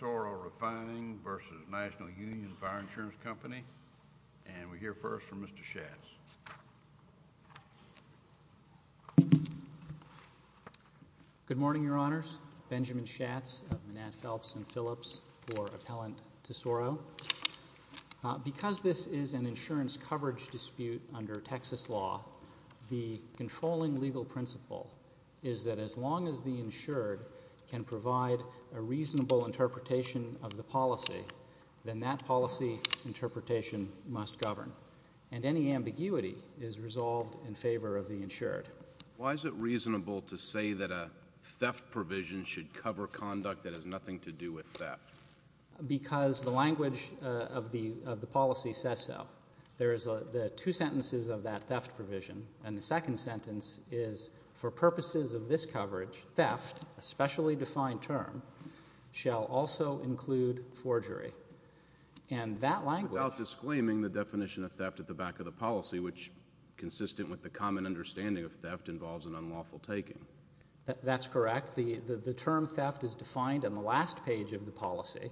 Sero Refng v. National Union Fire Insurance Company, and we hear first from Mr. Schatz. Good morning, Your Honors. Benjamin Schatz of Manette, Phelps & Phillips for Appellant to Soro. Because this is an insurance coverage dispute under Texas law, the controlling legal principle is that as long as the insured can provide a reasonable interpretation of the policy, then that policy interpretation must govern, and any ambiguity is resolved in favor of the insured. Why is it reasonable to say that a theft provision should cover conduct that has nothing to do with theft? Because the language of the policy says so. There are two sentences of that theft provision, and the second sentence is, for purposes of this coverage, theft, a specially defined term, shall also include forgery. Without disclaiming the definition of theft at the back of the policy, which, consistent with the common understanding of theft, involves an unlawful taking. That's correct. The term theft is defined on the last page of the policy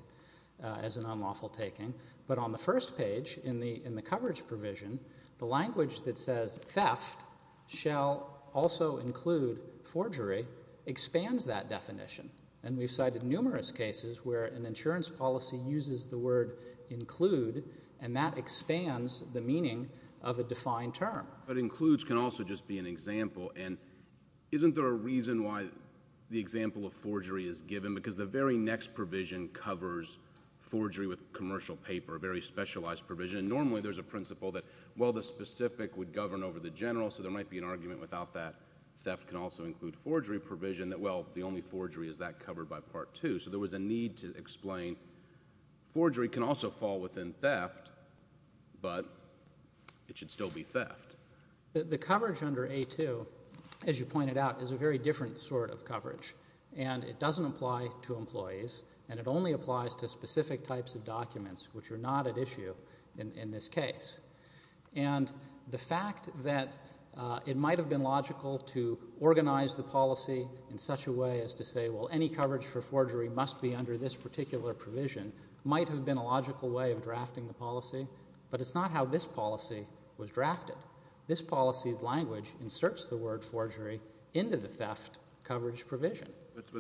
as an unlawful taking, but on the first page in the coverage provision, the language that says theft shall also include forgery expands that definition. And we've cited numerous cases where an insurance policy uses the word include, and that expands the meaning of a defined term. But includes can also just be an example, and isn't there a reason why the example of forgery is given? Because the very next provision covers forgery with commercial paper, a very specialized provision. Normally, there's a principle that, well, the specific would govern over the general, so there might be an argument without that theft can also include forgery provision that, well, the only forgery is that covered by Part 2. So there was a need to explain forgery can also fall within theft, but it should still be theft. The coverage under A2, as you pointed out, is a very different sort of coverage, and it doesn't apply to employees, and it only applies to specific types of documents, which are not at issue in this case. And the fact that it might have been logical to organize the policy in such a way as to say, well, any coverage for forgery must be under this particular provision might have been a logical way of drafting the policy, but it's not how this policy was drafted. This policy's language inserts the word forgery into the theft coverage provision.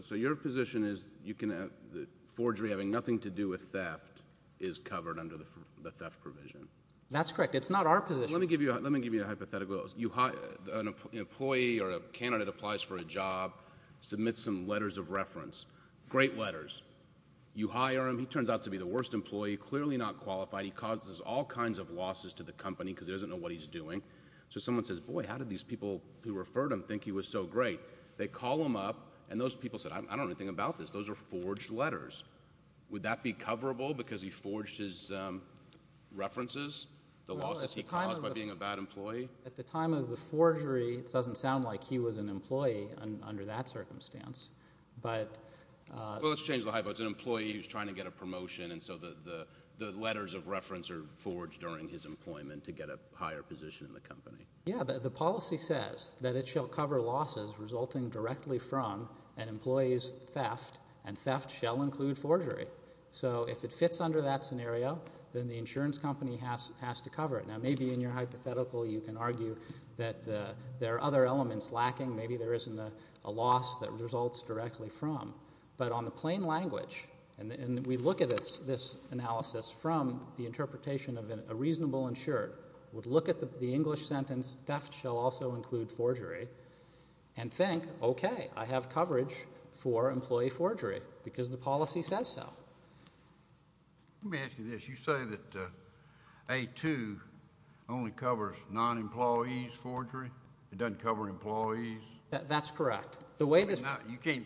So your position is that forgery having nothing to do with theft is covered under the theft provision? That's correct. It's not our position. Let me give you a hypothetical. An employee or a candidate applies for a job, submits some letters of reference, great letters. You hire him. He turns out to be the worst employee, clearly not qualified. He causes all kinds of losses to the company because he doesn't know what he's doing. So someone says, boy, how did these people who referred him think he was so great? They call him up, and those people said, I don't know anything about this. Those are forged letters. Would that be coverable because he forged his references, the losses he caused by being a bad employee? At the time of the forgery, it doesn't sound like he was an employee under that circumstance. Well, let's change the hypo. It's an employee who's trying to get a promotion, and so the letters of reference are forged during his employment to get a higher position in the company. Yeah, but the policy says that it shall cover losses resulting directly from an employee's theft, and theft shall include forgery. So if it fits under that scenario, then the insurance company has to cover it. Now, maybe in your hypothetical you can argue that there are other elements lacking. Maybe there isn't a loss that results directly from. But on the plain language, and we look at this analysis from the interpretation of a reasonable insured, would look at the English sentence, theft shall also include forgery, and think, okay, I have coverage for employee forgery because the policy says so. Let me ask you this. You say that A-2 only covers non-employees forgery? It doesn't cover employees? That's correct. The way this. You can't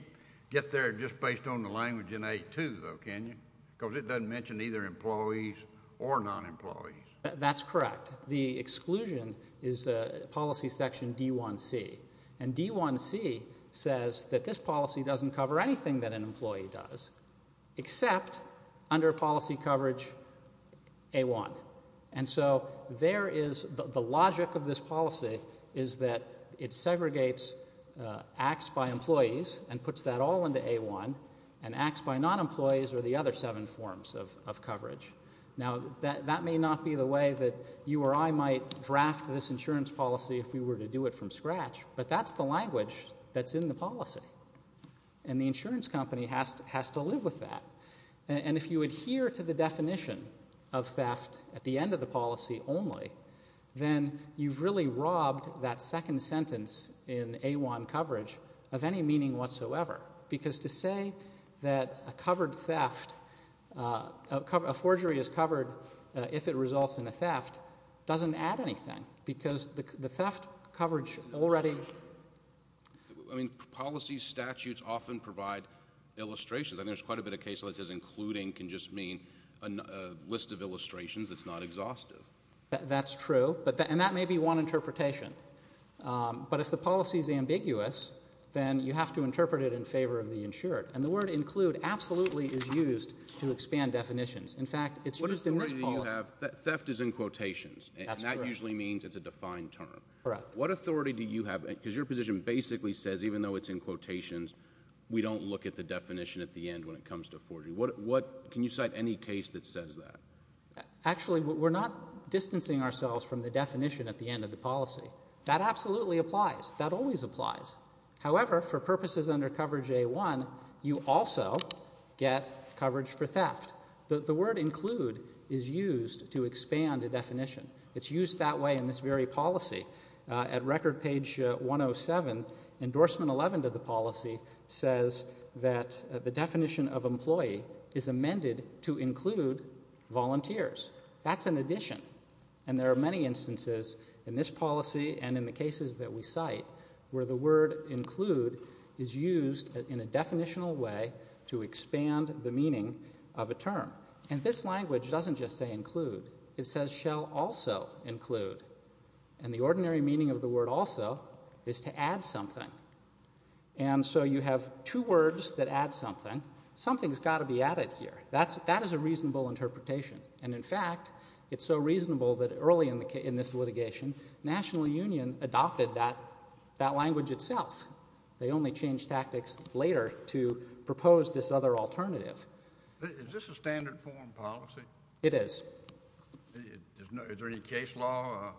get there just based on the language in A-2, though, can you? Because it doesn't mention either employees or non-employees. That's correct. The exclusion is policy section D-1C, and D-1C says that this policy doesn't cover anything that an employee does except under policy coverage A-1. And so there is the logic of this policy is that it segregates acts by employees and puts that all into A-1, and acts by non-employees are the other seven forms of coverage. Now, that may not be the way that you or I might draft this insurance policy if we were to do it from scratch, but that's the language that's in the policy, and the insurance company has to live with that. And if you adhere to the definition of theft at the end of the policy only, then you've really robbed that second sentence in A-1 coverage of any meaning whatsoever. Because to say that a covered theft, a forgery is covered if it results in a theft doesn't add anything, because the theft coverage already. I mean, policy statutes often provide illustrations. I mean, there's quite a bit of case law that says including can just mean a list of illustrations that's not exhaustive. That's true, and that may be one interpretation. But if the policy is ambiguous, then you have to interpret it in favor of the insured. And the word include absolutely is used to expand definitions. In fact, it's used in this policy. What authority do you have? Theft is in quotations, and that usually means it's a defined term. Correct. What authority do you have? Because your position basically says even though it's in quotations, we don't look at the definition at the end when it comes to forgery. Can you cite any case that says that? Actually, we're not distancing ourselves from the definition at the end of the policy. That absolutely applies. That always applies. However, for purposes under coverage A-1, you also get coverage for theft. The word include is used to expand a definition. It's used that way in this very policy. At record page 107, endorsement 11 to the policy says that the definition of employee is amended to include volunteers. That's an addition, and there are many instances in this policy and in the cases that we cite where the word include is used in a definitional way to expand the meaning of a term. And this language doesn't just say include. It says shall also include, and the ordinary meaning of the word also is to add something. And so you have two words that add something. Something's got to be added here. That is a reasonable interpretation, and in fact, it's so reasonable that early in this litigation, National Union adopted that language itself. They only changed tactics later to propose this other alternative. Is this a standard form policy? It is. Is there any case law?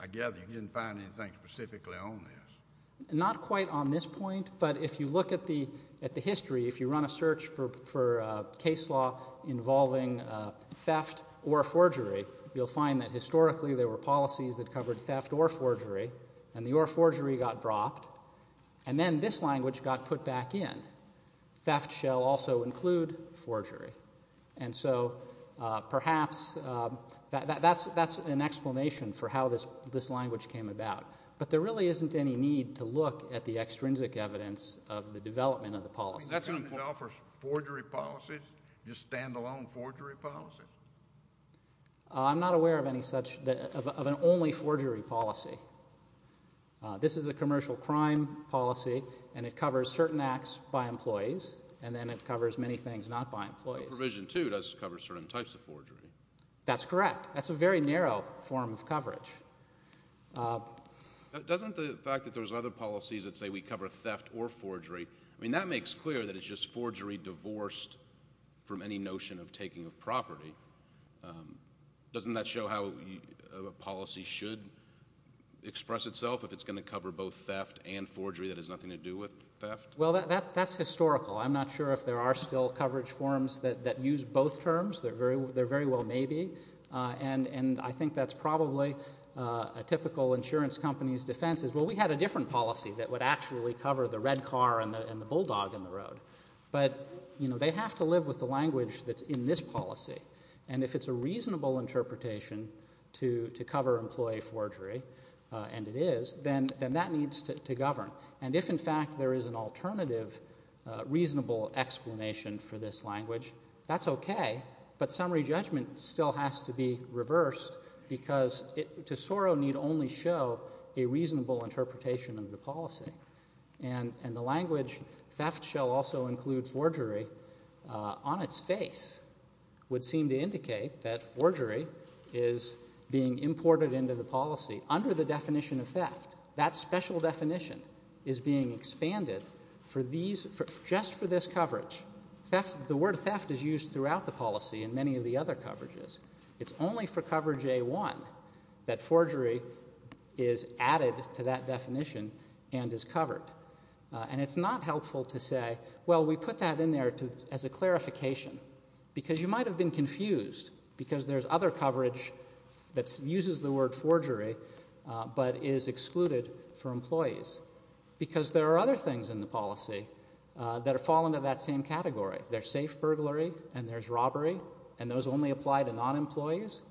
I gather you didn't find anything specifically on this. Not quite on this point, but if you look at the history, if you run a search for case law involving theft or forgery, you'll find that historically there were policies that covered theft or forgery, and the or forgery got dropped. And then this language got put back in. Theft shall also include forgery. And so perhaps that's an explanation for how this language came about, but there really isn't any need to look at the extrinsic evidence of the development of the policy. Is that going to allow for forgery policies, just stand-alone forgery policies? I'm not aware of any such, of an only forgery policy. This is a commercial crime policy, and it covers certain acts by employees, and then it covers many things not by employees. Provision 2 does cover certain types of forgery. That's correct. That's a very narrow form of coverage. Doesn't the fact that there's other policies that say we cover theft or forgery, I mean, that makes clear that it's just forgery divorced from any notion of taking of property. Doesn't that show how a policy should express itself if it's going to cover both theft and forgery that has nothing to do with theft? Well, that's historical. I'm not sure if there are still coverage forms that use both terms. There very well may be, and I think that's probably a typical insurance company's defense is, well, we had a different policy that would actually cover the red car and the bulldog in the road. But, you know, they have to live with the language that's in this policy. And if it's a reasonable interpretation to cover employee forgery, and it is, then that needs to govern. And if, in fact, there is an alternative reasonable explanation for this language, that's okay. But summary judgment still has to be reversed because Tesoro need only show a reasonable interpretation of the policy. And the language theft shall also include forgery on its face would seem to indicate that forgery is being imported into the policy under the definition of theft. That special definition is being expanded just for this coverage. The word theft is used throughout the policy in many of the other coverages. It's only for coverage A1 that forgery is added to that definition and is covered. And it's not helpful to say, well, we put that in there as a clarification. Because you might have been confused because there's other coverage that uses the word forgery but is excluded for employees. Because there are other things in the policy that fall into that same category. There's safe burglary and there's robbery, and those only apply to non-employees.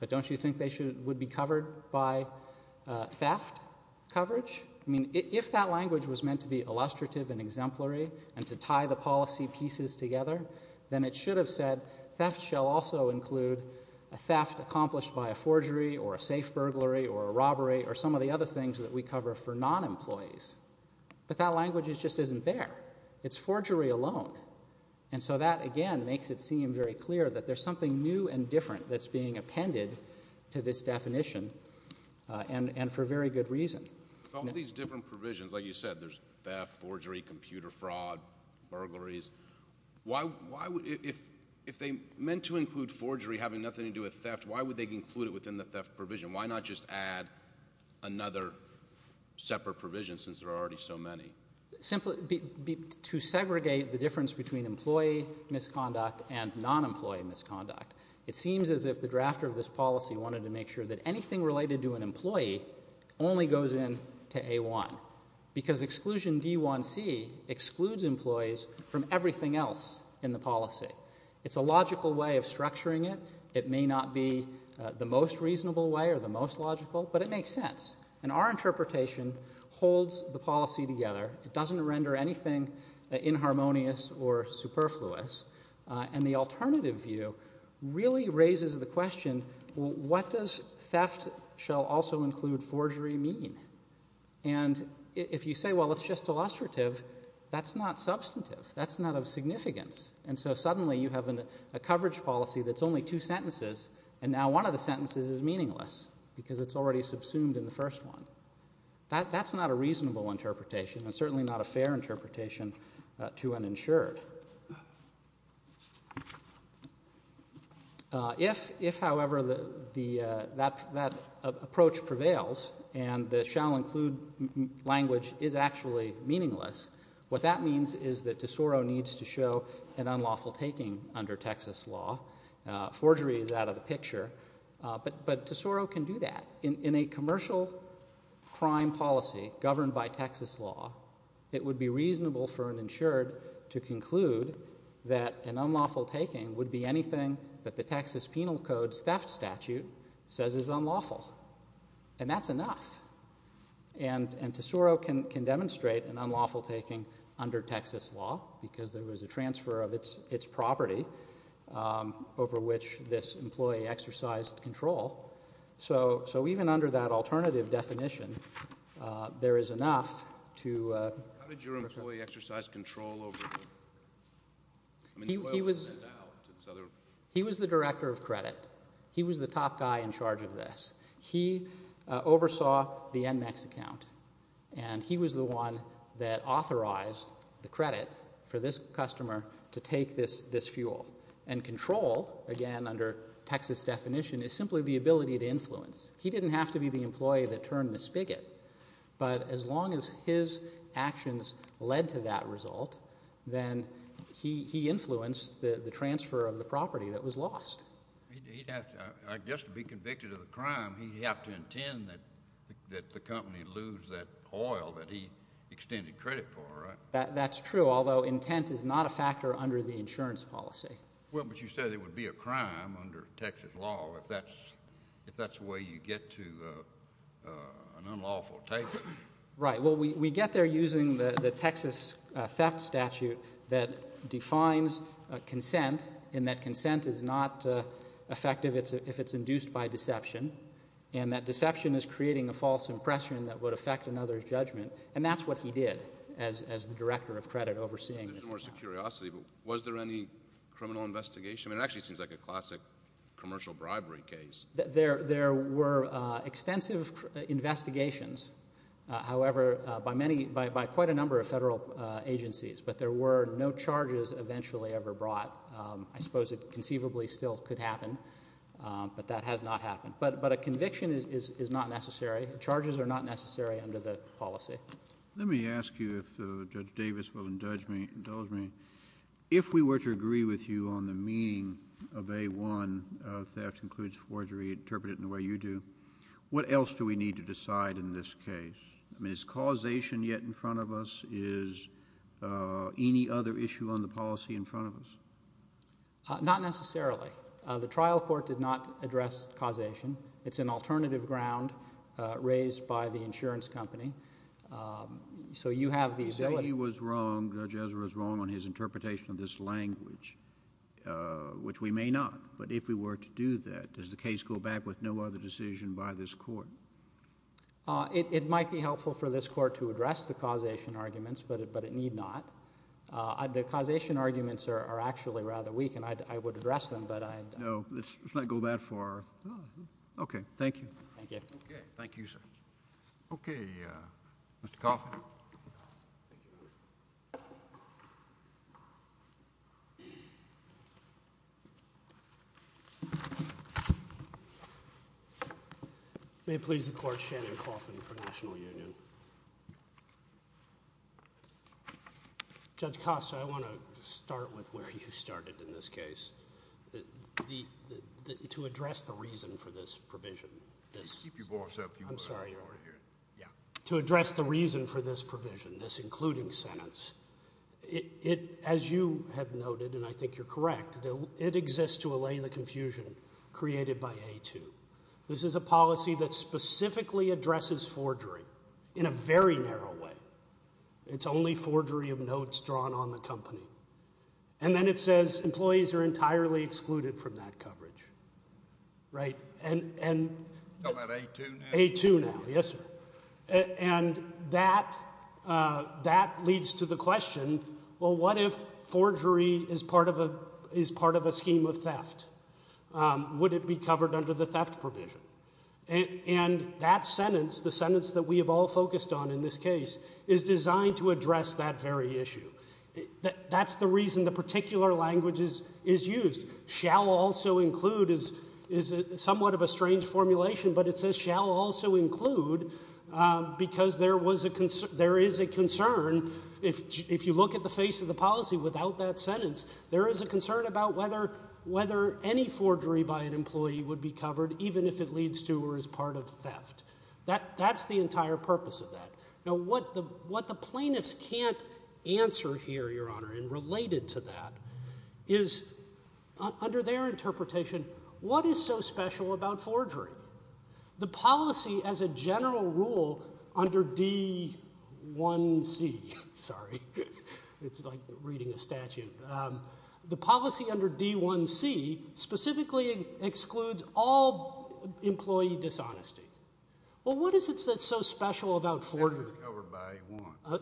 But don't you think they would be covered by theft coverage? I mean, if that language was meant to be illustrative and exemplary and to tie the policy pieces together, then it should have said theft shall also include a theft accomplished by a forgery or a safe burglary or a robbery or some of the other things that we cover for non-employees. But that language just isn't there. It's forgery alone. And so that, again, makes it seem very clear that there's something new and different that's being appended to this definition and for very good reason. With all these different provisions, like you said, there's theft, forgery, computer fraud, burglaries. If they meant to include forgery having nothing to do with theft, why would they include it within the theft provision? Why not just add another separate provision since there are already so many? To segregate the difference between employee misconduct and non-employee misconduct, it seems as if the drafter of this policy wanted to make sure that anything related to an employee only goes in to A1 because exclusion D1C excludes employees from everything else in the policy. It's a logical way of structuring it. It may not be the most reasonable way or the most logical, but it makes sense. And our interpretation holds the policy together. It doesn't render anything inharmonious or superfluous. And the alternative view really raises the question, well, what does theft shall also include forgery mean? And if you say, well, it's just illustrative, that's not substantive. That's not of significance. And so suddenly you have a coverage policy that's only two sentences, and now one of the sentences is meaningless because it's already subsumed in the first one. That's not a reasonable interpretation and certainly not a fair interpretation to an insured. If, however, that approach prevails and the shall include language is actually meaningless, what that means is that Tesoro needs to show an unlawful taking under Texas law. Forgery is out of the picture, but Tesoro can do that. In a commercial crime policy governed by Texas law, it would be reasonable for an insured to conclude that an unlawful taking would be anything that the Texas Penal Code's theft statute says is unlawful. And that's enough. And Tesoro can demonstrate an unlawful taking under Texas law because there was a transfer of its property. Over which this employee exercised control. So even under that alternative definition, there is enough to... How did your employee exercise control over... He was the director of credit. He was the top guy in charge of this. He oversaw the Enmax account. And he was the one that authorized the credit for this customer to take this fuel. And control, again under Texas definition, is simply the ability to influence. He didn't have to be the employee that turned the spigot. But as long as his actions led to that result, then he influenced the transfer of the property that was lost. He'd have to... I guess to be convicted of a crime, he'd have to intend that the company lose that oil that he extended credit for, right? That's true, although intent is not a factor under the insurance policy. Well, but you said it would be a crime under Texas law if that's the way you get to an unlawful taking. Right. Well, we get there using the Texas theft statute that defines consent in that consent is not effective if it's induced by deception. And that deception is creating a false impression that would affect another's judgment. And that's what he did as the director of credit overseeing this account. Just out of curiosity, was there any criminal investigation? I mean, it actually seems like a classic commercial bribery case. There were extensive investigations, however, by quite a number of federal agencies. But there were no charges eventually ever brought. I suppose it conceivably still could happen, but that has not happened. But a conviction is not necessary. Charges are not necessary under the policy. Let me ask you if Judge Davis will indulge me. If we were to agree with you on the meaning of A1, theft includes forgery, interpret it in the way you do, what else do we need to decide in this case? I mean, is causation yet in front of us? Is any other issue on the policy in front of us? Not necessarily. The trial court did not address causation. It's an alternative ground raised by the insurance company. So you have the ability... Let's say he was wrong, Judge Ezra was wrong on his interpretation of this language, which we may not, but if we were to do that, does the case go back with no other decision by this court? It might be helpful for this court to address the causation arguments, but it need not. The causation arguments are actually rather weak, and I would address them, but I... No. Let's not go that far. Okay. Thank you. Thank you, sir. Any other questions? Okay. Mr. Coffin. Thank you, Your Honor. May it please the Court, Shannon Coffin for National Union. Judge Costa, I want to start with where you started in this case, to address the reason for this provision. Keep your voice up. I'm sorry, Your Honor. To address the reason for this provision, this including sentence. As you have noted, and I think you're correct, it exists to allay the confusion created by A2. This is a policy that specifically addresses forgery in a very narrow way. It's only forgery of notes drawn on the company. And then it says employees are entirely excluded from that coverage. Right. And... How about A2 now? A2 now. Yes, sir. And that leads to the question, well, what if forgery is part of a scheme of theft? Would it be covered under the theft provision? And that sentence, the sentence that we have all focused on in this case, is designed to address that very issue. That's the reason the particular language is used. Shall also include is somewhat of a strange formulation, but it says shall also include because there is a concern. If you look at the face of the policy without that sentence, there is a concern about whether any forgery by an employee would be covered, even if it leads to or is part of theft. That's the entire purpose of that. Now, what the plaintiffs can't answer here, Your Honor, and related to that, is under their interpretation, what is so special about forgery? The policy as a general rule under D1C... Sorry. It's like reading a statute. The policy under D1C specifically excludes all employee dishonesty. Well, what is it that's so special about forgery?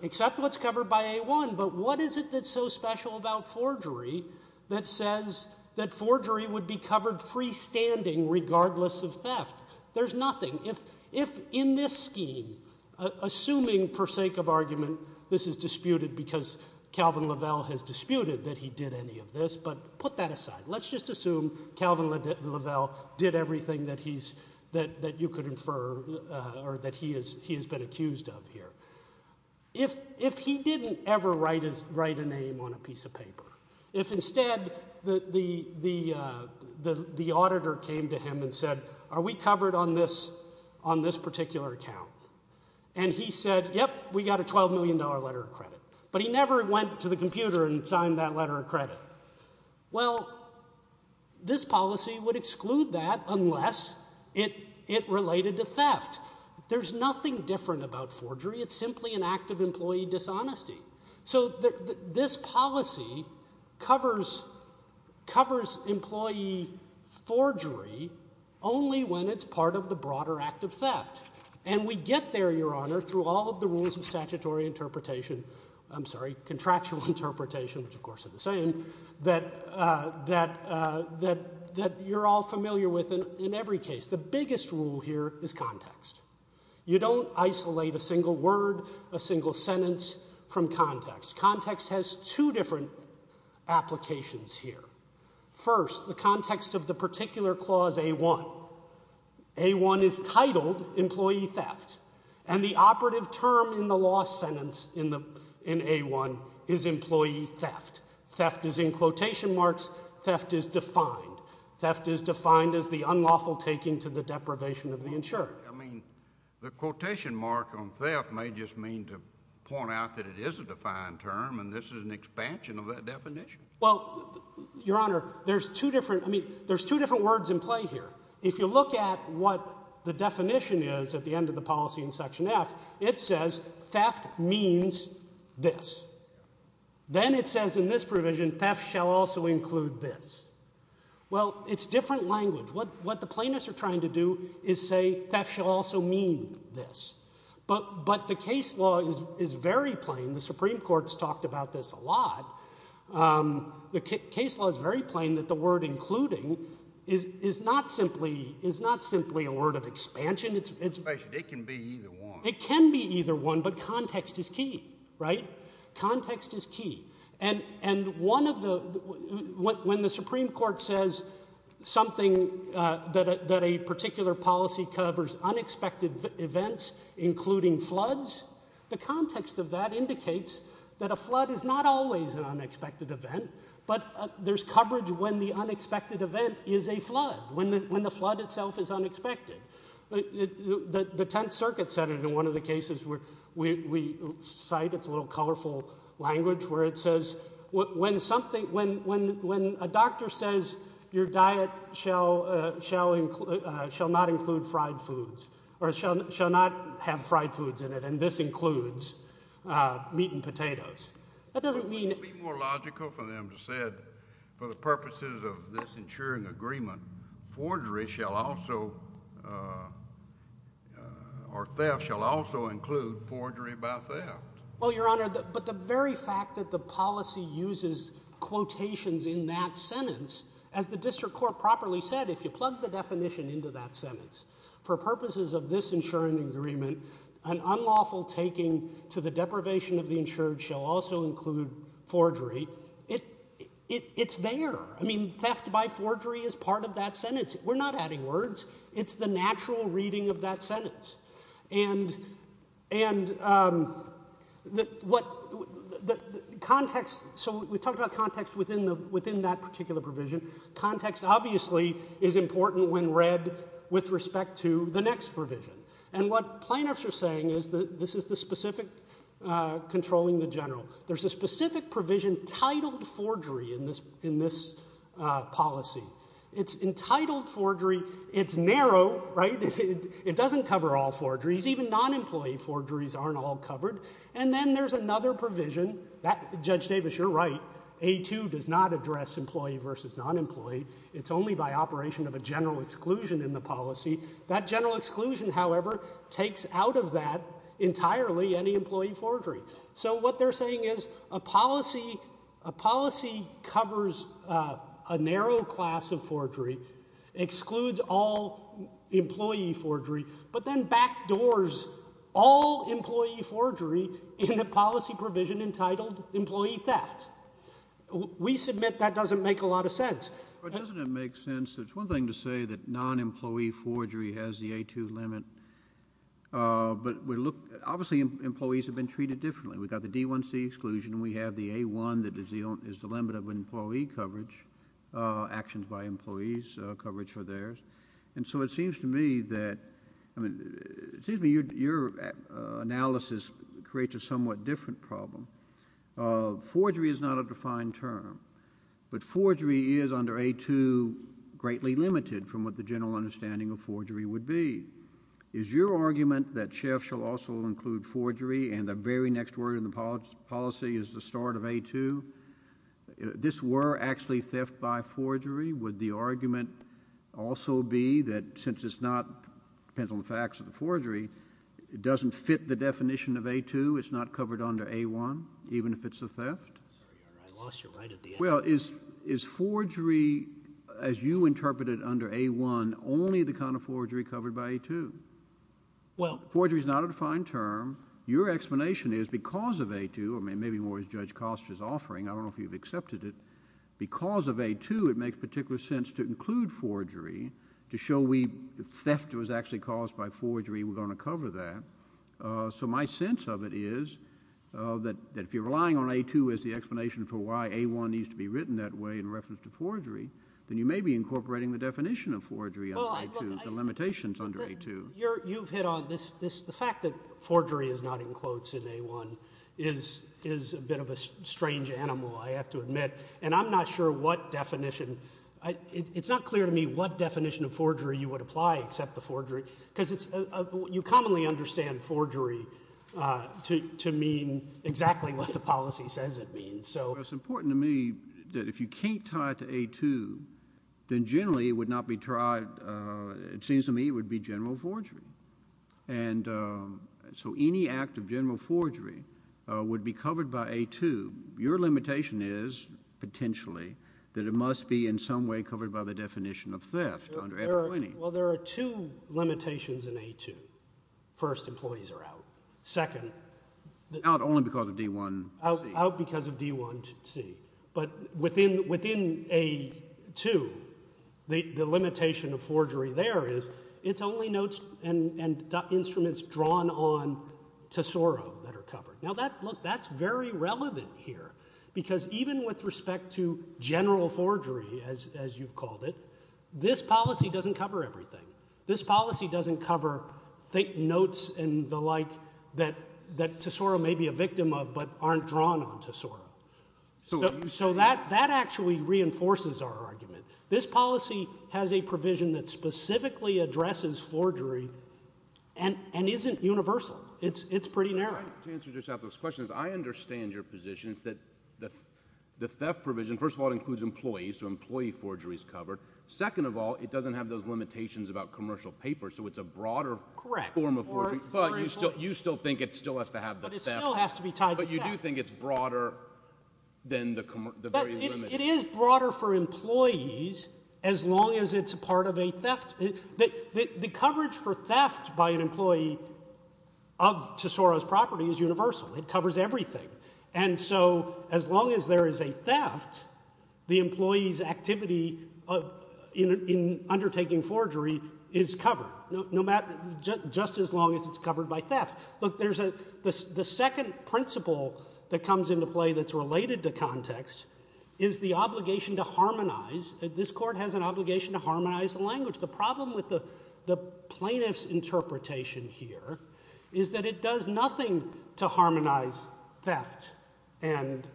Except what's covered by A1. But what is it that's so special about forgery that says that forgery would be covered freestanding regardless of theft? There's nothing. If in this scheme, assuming for sake of argument, this is disputed because Calvin Lovell has disputed that he did any of this, but put that aside. Let's just assume Calvin Lovell did everything that you could infer or that he has been accused of here. If he didn't ever write a name on a piece of paper, if instead the auditor came to him and said, are we covered on this particular account? And he said, yep, we got a $12 million letter of credit. But he never went to the computer and signed that letter of credit. Well, this policy would exclude that unless it related to theft. There's nothing different about forgery. It's simply an act of employee dishonesty. So this policy covers employee forgery only when it's part of the broader act of theft. And we get there, Your Honor, through all of the rules of statutory interpretation, I'm sorry, contractual interpretation, which of course are the same, that you're all familiar with in every case. The biggest rule here is context. You don't isolate a single word, a single sentence from context. Context has two different applications here. First, the context of the particular clause A-1. A-1 is titled employee theft. And the operative term in the law sentence in A-1 is employee theft. Theft is in quotation marks. Theft is defined. Theft is defined as the unlawful taking to the deprivation of the insured. The quotation mark on theft may just mean to point out that it is a defined term and this is an expansion of that definition. Well, Your Honor, there's two different words in play here. If you look at what the definition is at the end of the policy in Section F, it says theft means this. Then it says in this provision theft shall also include this. Well, it's different language. What the plaintiffs are trying to do is say theft shall also mean this. But the case law is very plain. The Supreme Court has talked about this a lot. The case law is very plain that the word including is not simply a word of expansion. It can be either one. It can be either one, but context is key, right? Context is key. And when the Supreme Court says something that a particular policy covers unexpected events, including floods, the context of that indicates that a flood is not always an unexpected event, but there's coverage when the unexpected event is a flood, when the flood itself is unexpected. The Tenth Circuit said it in one of the cases where we cite its little colorful language and it says when a doctor says your diet shall not include fried foods or shall not have fried foods in it and this includes meat and potatoes, that doesn't mean— It would be more logical for them to say for the purposes of this ensuring agreement, forgery shall also, or theft shall also include forgery by theft. Well, Your Honor, but the very fact that the policy uses quotations in that sentence, as the district court properly said, if you plug the definition into that sentence, for purposes of this ensuring agreement, an unlawful taking to the deprivation of the insured shall also include forgery, it's there. I mean, theft by forgery is part of that sentence. We're not adding words. It's the natural reading of that sentence. And the context—so we talked about context within that particular provision. Context obviously is important when read with respect to the next provision. And what plaintiffs are saying is that this is the specific controlling the general. There's a specific provision titled forgery in this policy. It's entitled forgery. It's narrow, right? It doesn't cover all forgeries. Even non-employee forgeries aren't all covered. And then there's another provision. Judge Davis, you're right. A2 does not address employee versus non-employee. It's only by operation of a general exclusion in the policy. That general exclusion, however, takes out of that entirely any employee forgery. So what they're saying is a policy covers a narrow class of forgery, excludes all employee forgery, but then backdoors all employee forgery in a policy provision entitled employee theft. We submit that doesn't make a lot of sense. But doesn't it make sense? It's one thing to say that non-employee forgery has the A2 limit, but obviously employees have been treated differently. We've got the D1C exclusion. We have the A1 that is the limit of employee coverage, actions by employees, coverage for theirs. And so it seems to me that your analysis creates a somewhat different problem. Forgery is not a defined term, but forgery is under A2 greatly limited from what the general understanding of forgery would be. Is your argument that chef shall also include forgery and the very next word in the policy is the start of A2? This were actually theft by forgery. Would the argument also be that since it's not depends on the facts of the forgery, it doesn't fit the definition of A2. It's not covered under A1 even if it's a theft. I lost you right at the end. Well, is forgery as you interpret it under A1 only the kind of forgery covered by A2? Well, forgery is not a defined term. Your explanation is because of A2 or maybe more as Judge Costa is offering, I don't know if you've accepted it, because of A2 it makes particular sense to include forgery to show we if theft was actually caused by forgery, we're going to cover that. So my sense of it is that if you're relying on A2 as the explanation for why A1 needs to be written that way in reference to forgery, then you may be incorporating the definition of forgery under A2, the limitations under A2. You've hit on this, the fact that forgery is not in quotes in A1 is a bit of a strange animal, I have to admit. And I'm not sure what definition, it's not clear to me what definition of forgery you would apply except the forgery, because you commonly understand forgery to mean exactly what the policy says it means. It's important to me that if you can't tie it to A2, then generally it would not be tried, but it seems to me it would be general forgery. And so any act of general forgery would be covered by A2. Your limitation is potentially that it must be in some way covered by the definition of theft under A20. Well, there are two limitations in A2. First, employees are out. Second, Out only because of D1C. Out because of D1C. But within A2, the limitation of forgery there is it's only notes and instruments drawn on Tesoro that are covered. Now, look, that's very relevant here, because even with respect to general forgery, as you've called it, this policy doesn't cover everything. This policy doesn't cover notes and the like that Tesoro may be a victim of but aren't drawn on Tesoro. So that actually reinforces our argument. This policy has a provision that specifically addresses forgery and isn't universal. It's pretty narrow. To answer your question, I understand your position that the theft provision, first of all, includes employees, so employee forgery is covered. Second of all, it doesn't have those limitations about commercial papers, so it's a broader form of forgery. But you still think it still has to have the theft. But it still has to be tied to theft. It's broader than the very limit. But it is broader for employees as long as it's part of a theft. The coverage for theft by an employee of Tesoro's property is universal. It covers everything. And so as long as there is a theft, the employee's activity in undertaking forgery is covered, just as long as it's covered by theft. Look, the second principle that comes into play that's related to context is the obligation to harmonize. This court has an obligation to harmonize the language. The problem with the plaintiff's interpretation here is that it does nothing to harmonize theft and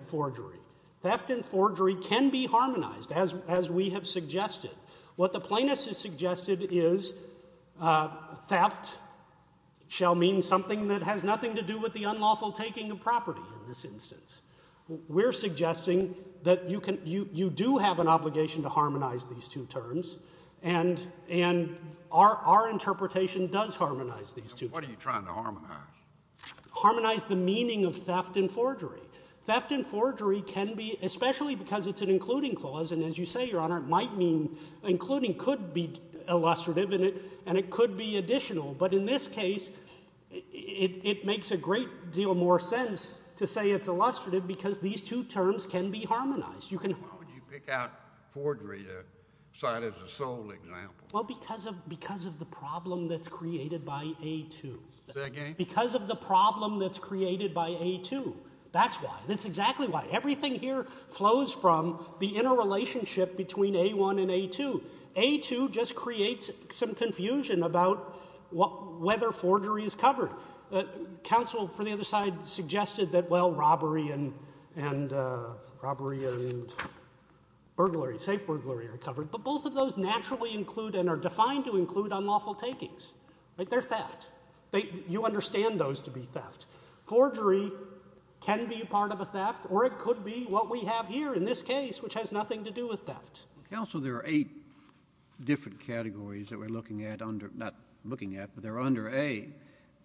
forgery. Theft and forgery can be harmonized, as we have suggested. What the plaintiff has suggested is theft shall mean something that has nothing to do with the unlawful taking of property in this instance. We're suggesting that you do have an obligation to harmonize these two terms, and our interpretation does harmonize these two terms. What are you trying to harmonize? Harmonize the meaning of theft and forgery. Theft and forgery can be, especially because it's an including clause, and as you say, Your Honor, including could be illustrative, and it could be additional. But in this case, it makes a great deal more sense to say it's illustrative because these two terms can be harmonized. Why would you pick out forgery to cite as a sole example? Well, because of the problem that's created by A2. Say again? Because of the problem that's created by A2. That's why. That's exactly why. Everything here flows from the interrelationship between A1 and A2. A2 just creates some confusion about whether forgery is covered. Counsel for the other side suggested that, well, robbery and burglary, safe burglary are covered, but both of those naturally include and are defined to include unlawful takings. They're theft. You understand those to be theft. Forgery can be part of a theft, or it could be what we have here in this case, which has nothing to do with theft. Counsel, there are eight different categories that we're looking at under, not looking at, but they're under A,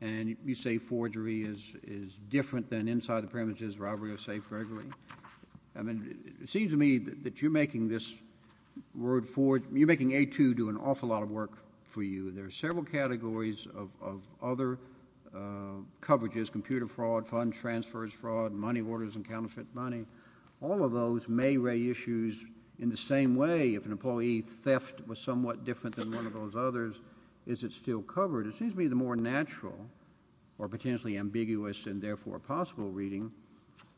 and you say forgery is different than inside the premises robbery or safe burglary. I mean, it seems to me that you're making this word for, you're making A2 do an awful lot of work for you. There are several categories of other coverages, computer fraud, fund transfers fraud, money orders and counterfeit money. All of those may raise issues in the same way if an employee's theft was somewhat different than one of those others, is it still covered? It seems to me the more natural or potentially ambiguous and therefore possible reading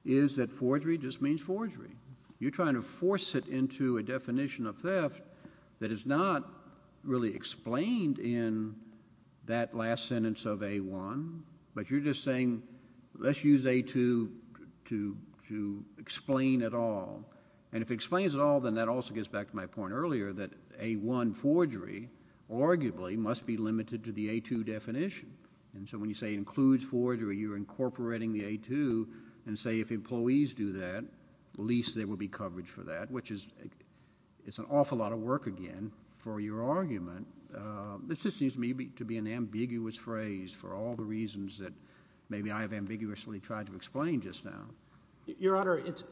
is that forgery just means forgery. You're trying to force it into a definition of theft that is not really explained in that last sentence of A1, but you're just saying, let's use A2 to explain it all. And if it explains it all, then that also gets back to my point earlier that A1 forgery arguably must be limited to the A2 definition. And so when you say includes forgery, you're incorporating the A2 and say if employees do that, at least there will be coverage for that, which is an awful lot of work again for your argument. This just seems to me to be an ambiguous phrase for all the reasons that maybe I have ambiguously tried to explain just now. Your Honor, it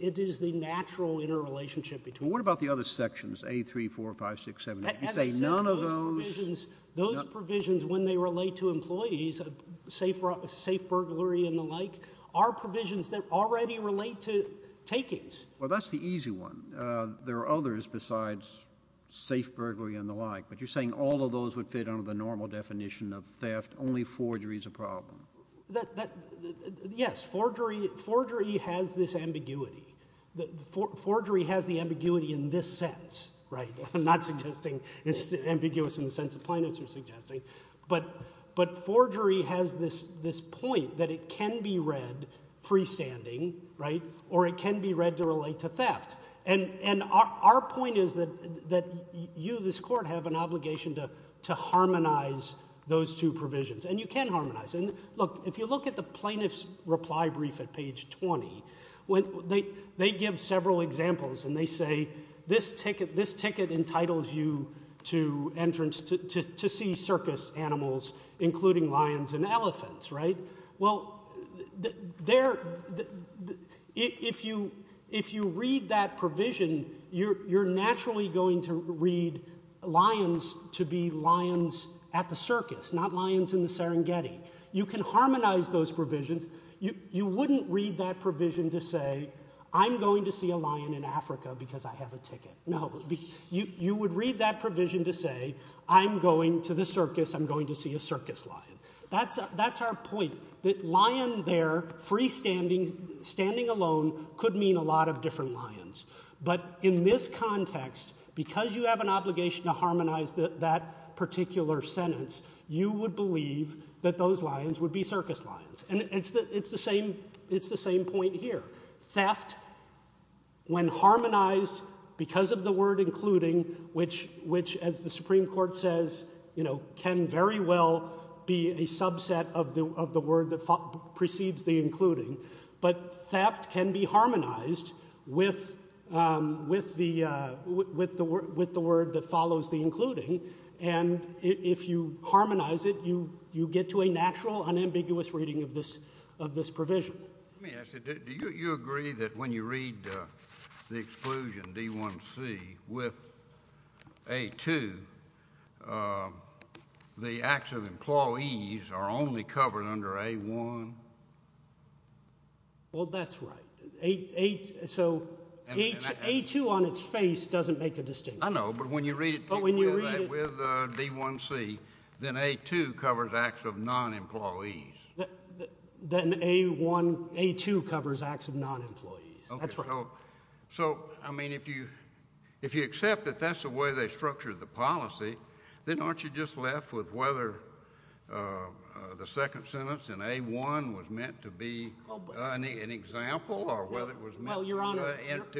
is the natural interrelationship between... What about the other sections, A3, 4, 5, 6, 7, 8? As I said, those provisions when they relate to employees, safe burglary and the like, are provisions that already relate to takings. Well, that's the easy one. There are others besides safe burglary and the like, but you're saying all of those would fit under the normal definition of theft, only forgery is a problem. Yes, forgery has this ambiguity. Forgery has the ambiguity in this sense, right? I'm not suggesting it's ambiguous in the sense the plaintiffs are suggesting, but forgery has this point that it can be read freestanding, right, or it can be read to relate to theft. And our point is that you, this Court, have an obligation to harmonize those two provisions, and you can harmonize them. Look, if you look at the plaintiff's reply brief at page 20, they give several examples, and they say, this ticket entitles you to see circus animals, including lions and elephants, right? Well, if you read that provision, you're naturally going to read lions to be lions at the circus, not lions in the Serengeti. You can harmonize those provisions. You wouldn't read that provision to say, I'm going to see a lion in Africa because I have a ticket. No, you would read that provision to say, I'm going to the circus, I'm going to see a circus lion. That's our point, that lion there, freestanding, standing alone, could mean a lot of different lions. But in this context, because you have an obligation to harmonize that particular sentence, you would believe that those lions would be circus lions. And it's the same point here. Theft, when harmonized because of the word including, which, as the Supreme Court says, can very well be a subset of the word that precedes the including, but theft can be harmonized with the word that follows the including. And if you harmonize it, you get to a natural, unambiguous reading of this provision. Let me ask you, do you agree that when you read the exclusion, D1C, with A2, the acts of employees are only covered under A1? Well, that's right. So, A2 on its face doesn't make a distinction. I know, but when you read it with D1C, then A2 covers acts of non-employees. Then A2 covers acts of non-employees. That's right. So, I mean, if you accept that that's the way they structured the policy, then aren't you just left with whether the second sentence in A1 was meant to be an example, or whether it was meant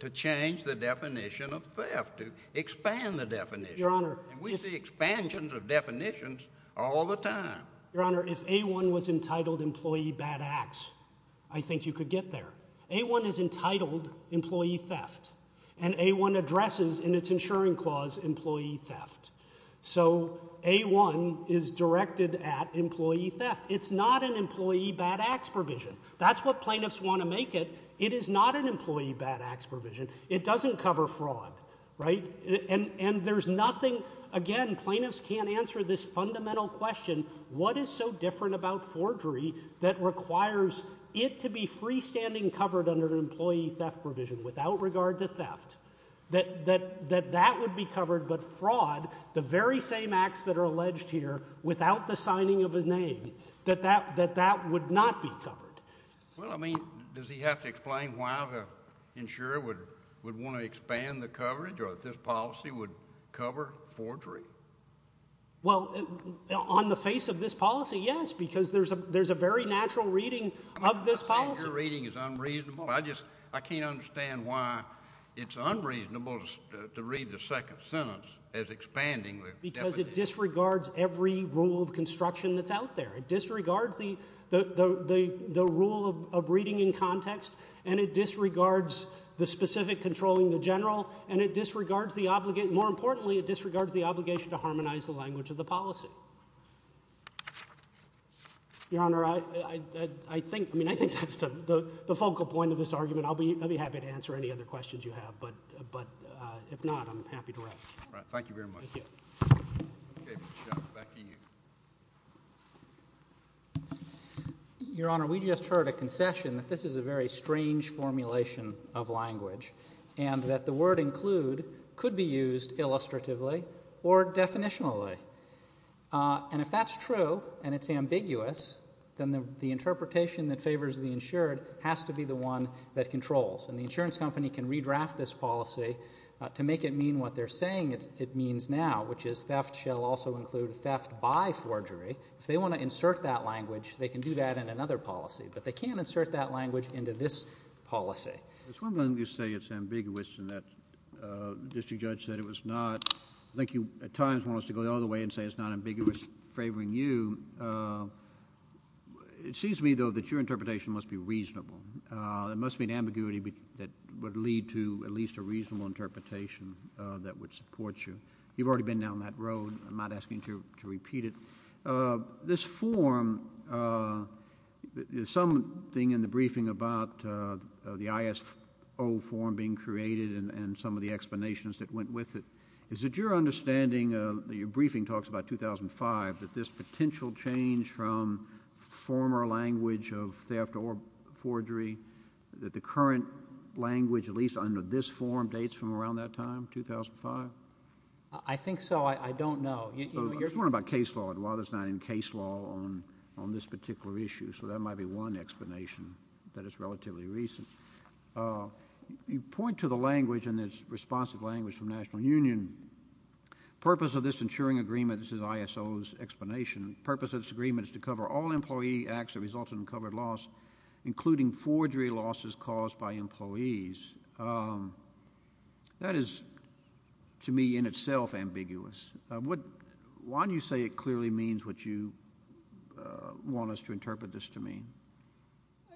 to change the definition of theft, to expand the definition? We see expansions of definitions all the time. Your Honor, if A1 was entitled employee bad acts, I think you could get there. A1 is entitled employee theft, and A1 addresses in its insuring clause employee theft. So, A1 is directed at employee theft. It's not an employee bad acts provision. That's what plaintiffs want to make it. It is not an employee bad acts provision. It doesn't cover fraud, right? And there's nothing, again, plaintiffs can't answer this fundamental question, what is so different about forgery that requires it to be freestanding covered under an employee theft provision, without regard to theft, that that would be covered, whereas the very same acts that are alleged here, without the signing of a name, that that would not be covered. Well, I mean, does he have to explain why the insurer would want to expand the coverage, or if this policy would cover forgery? Well, on the face of this policy, yes, because there's a very natural reading of this policy. Your reading is unreasonable. I can't understand why it's unreasonable to read the second sentence as expanding. Because it disregards every rule of construction that's out there. It disregards the rule of reading in context, and it disregards the specific controlling the general, and it disregards the obligation, more importantly, it disregards the obligation to harmonize the language of the policy. Your Honor, I think, I mean, I think that's the focal point of this argument. I'll be happy to answer any other questions you have, but if not, I'm happy to rest. All right, thank you very much. Thank you. Okay, Mr. Schatz, back to you. Your Honor, we just heard a concession that this is a very strange formulation of language, and that the word include could be used illustratively or definitionally. And if that's true, and it's ambiguous, then the interpretation that favors the insured has to be the one that controls. And the insurance company can redraft this policy to make it mean what they're saying it means now, which is theft shall also include theft by forgery. If they want to insert that language, they can do that in another policy, but they can't insert that language into this policy. There's one thing you say it's ambiguous, and that district judge said it was not. I think you, at times, want us to go the other way and say it's not ambiguous favoring you. It seems to me, though, that your interpretation must be reasonable. There must be an ambiguity that would lead to at least a reasonable interpretation that would support you. You've already been down that road. I'm not asking you to repeat it. This form, there's something in the briefing about the ISO form being created and some of the explanations that went with it. Is it your understanding, your briefing talks about 2005, that this potential change from former language of theft or forgery, that the current language, at least under this form, dates from around that time, 2005? I think so. I don't know. There's one about case law. There's not any case law on this particular issue, so that might be one explanation that is relatively recent. You point to the language, and it's responsive language from the National Union. The purpose of this insuring agreement, this is ISO's explanation, the purpose of this agreement is to cover all employee acts that result in covered loss, including forgery losses caused by employees. That is, to me, in itself, ambiguous. Why do you say it clearly means what you want us to interpret this to mean?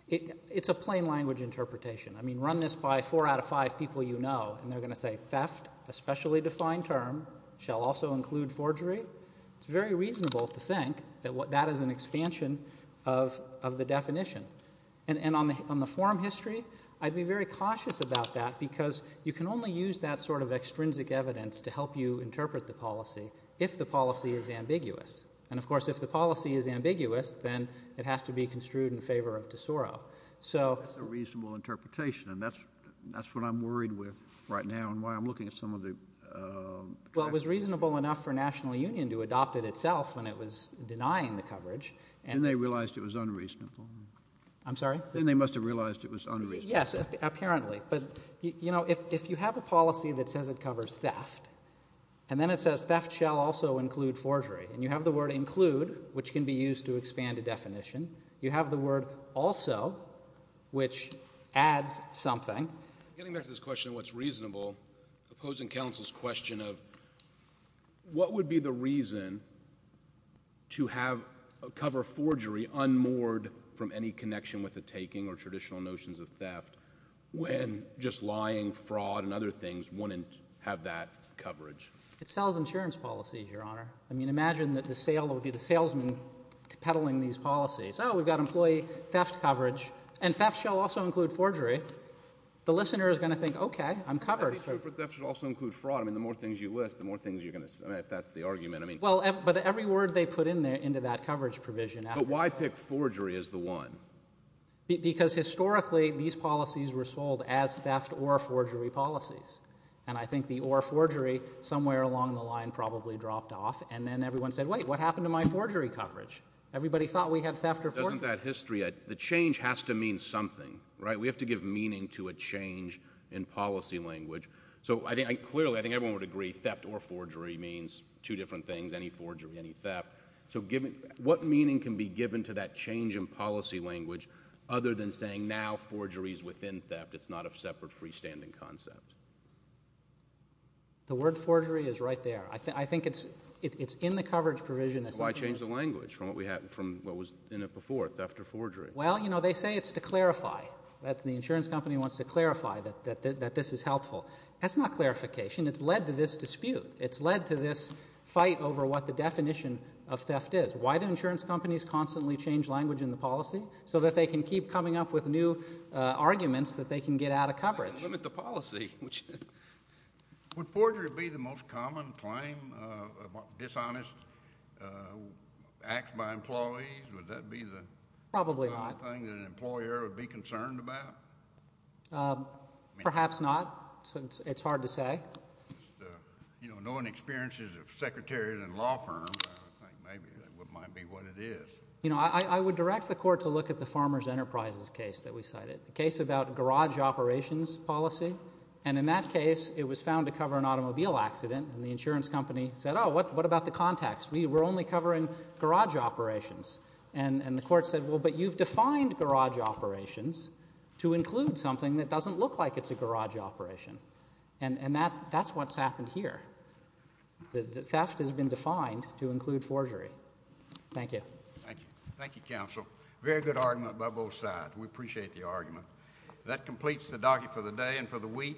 It's a plain language interpretation. I mean, run this by four out of five people you know, and they're going to say theft, a specially defined term, shall also include forgery. It's very reasonable to think that that is an expansion of the definition. And on the form history, I'd be very cautious about that because you can only use that sort of extrinsic evidence to help you interpret the policy if the policy is ambiguous. And, of course, if the policy is ambiguous, then it has to be construed in favor of de Soro. That's a reasonable interpretation, and that's what I'm worried with right now and why I'm looking at some of the... Well, it was reasonable enough for National Union to adopt it itself without denying the coverage. Then they realized it was unreasonable. I'm sorry? Then they must have realized it was unreasonable. Yes, apparently. But, you know, if you have a policy that says it covers theft, and then it says theft shall also include forgery, and you have the word include, which can be used to expand a definition, you have the word also, which adds something. Getting back to this question of what's reasonable, opposing counsel's question of what would be the reason to cover forgery unmoored from any connection with the taking or traditional notions of theft when just lying, fraud, and other things wouldn't have that coverage? It sells insurance policies, Your Honor. I mean, imagine that the salesman peddling these policies. Oh, we've got employee theft coverage, and theft shall also include forgery. The listener is going to think, okay, I'm covered. That should also include fraud. The more things you're going to say, if that's the argument. Well, but every word they put into that coverage provision. But why pick forgery as the one? Because historically, these policies were sold as theft or forgery policies. And I think the or forgery somewhere along the line probably dropped off, and then everyone said, wait, what happened to my forgery coverage? Everybody thought we had theft or forgery. Doesn't that history, that the word forgery means two different things, any forgery, any theft. So what meaning can be given to that change in policy language other than saying, now forgery is within theft, it's not a separate freestanding concept? The word forgery is right there. I think it's in the coverage provision. Why change the language from what was in it before, theft or forgery? Well, they say it's to clarify. The insurance company wants to clarify that it's led to this fight over what the definition of theft is. Why do insurance companies constantly change language in the policy? So that they can keep coming up with new arguments that they can get out of coverage. They can limit the policy. Would forgery be the most common claim about dishonest acts by employees? Would that be the thing that an employer would be concerned about? Perhaps not. It's hard to say. Knowing experiences of secretaries and law firms, I think maybe that might be what it is. You know, I would direct the court to look at the Farmer's Enterprises case that we cited, the case about garage operations policy. And in that case, it was found to cover an automobile accident, and the insurance company said, oh, what about the contacts? We're only covering garage operations. And the court said, well, but you've defined garage operations to include something that doesn't look like it's a garage operation. And that's what's happened here. The theft has been defined to include forgery. Thank you. Thank you, counsel. Very good argument by both sides. We appreciate the argument. That completes the docket for the day and for the week.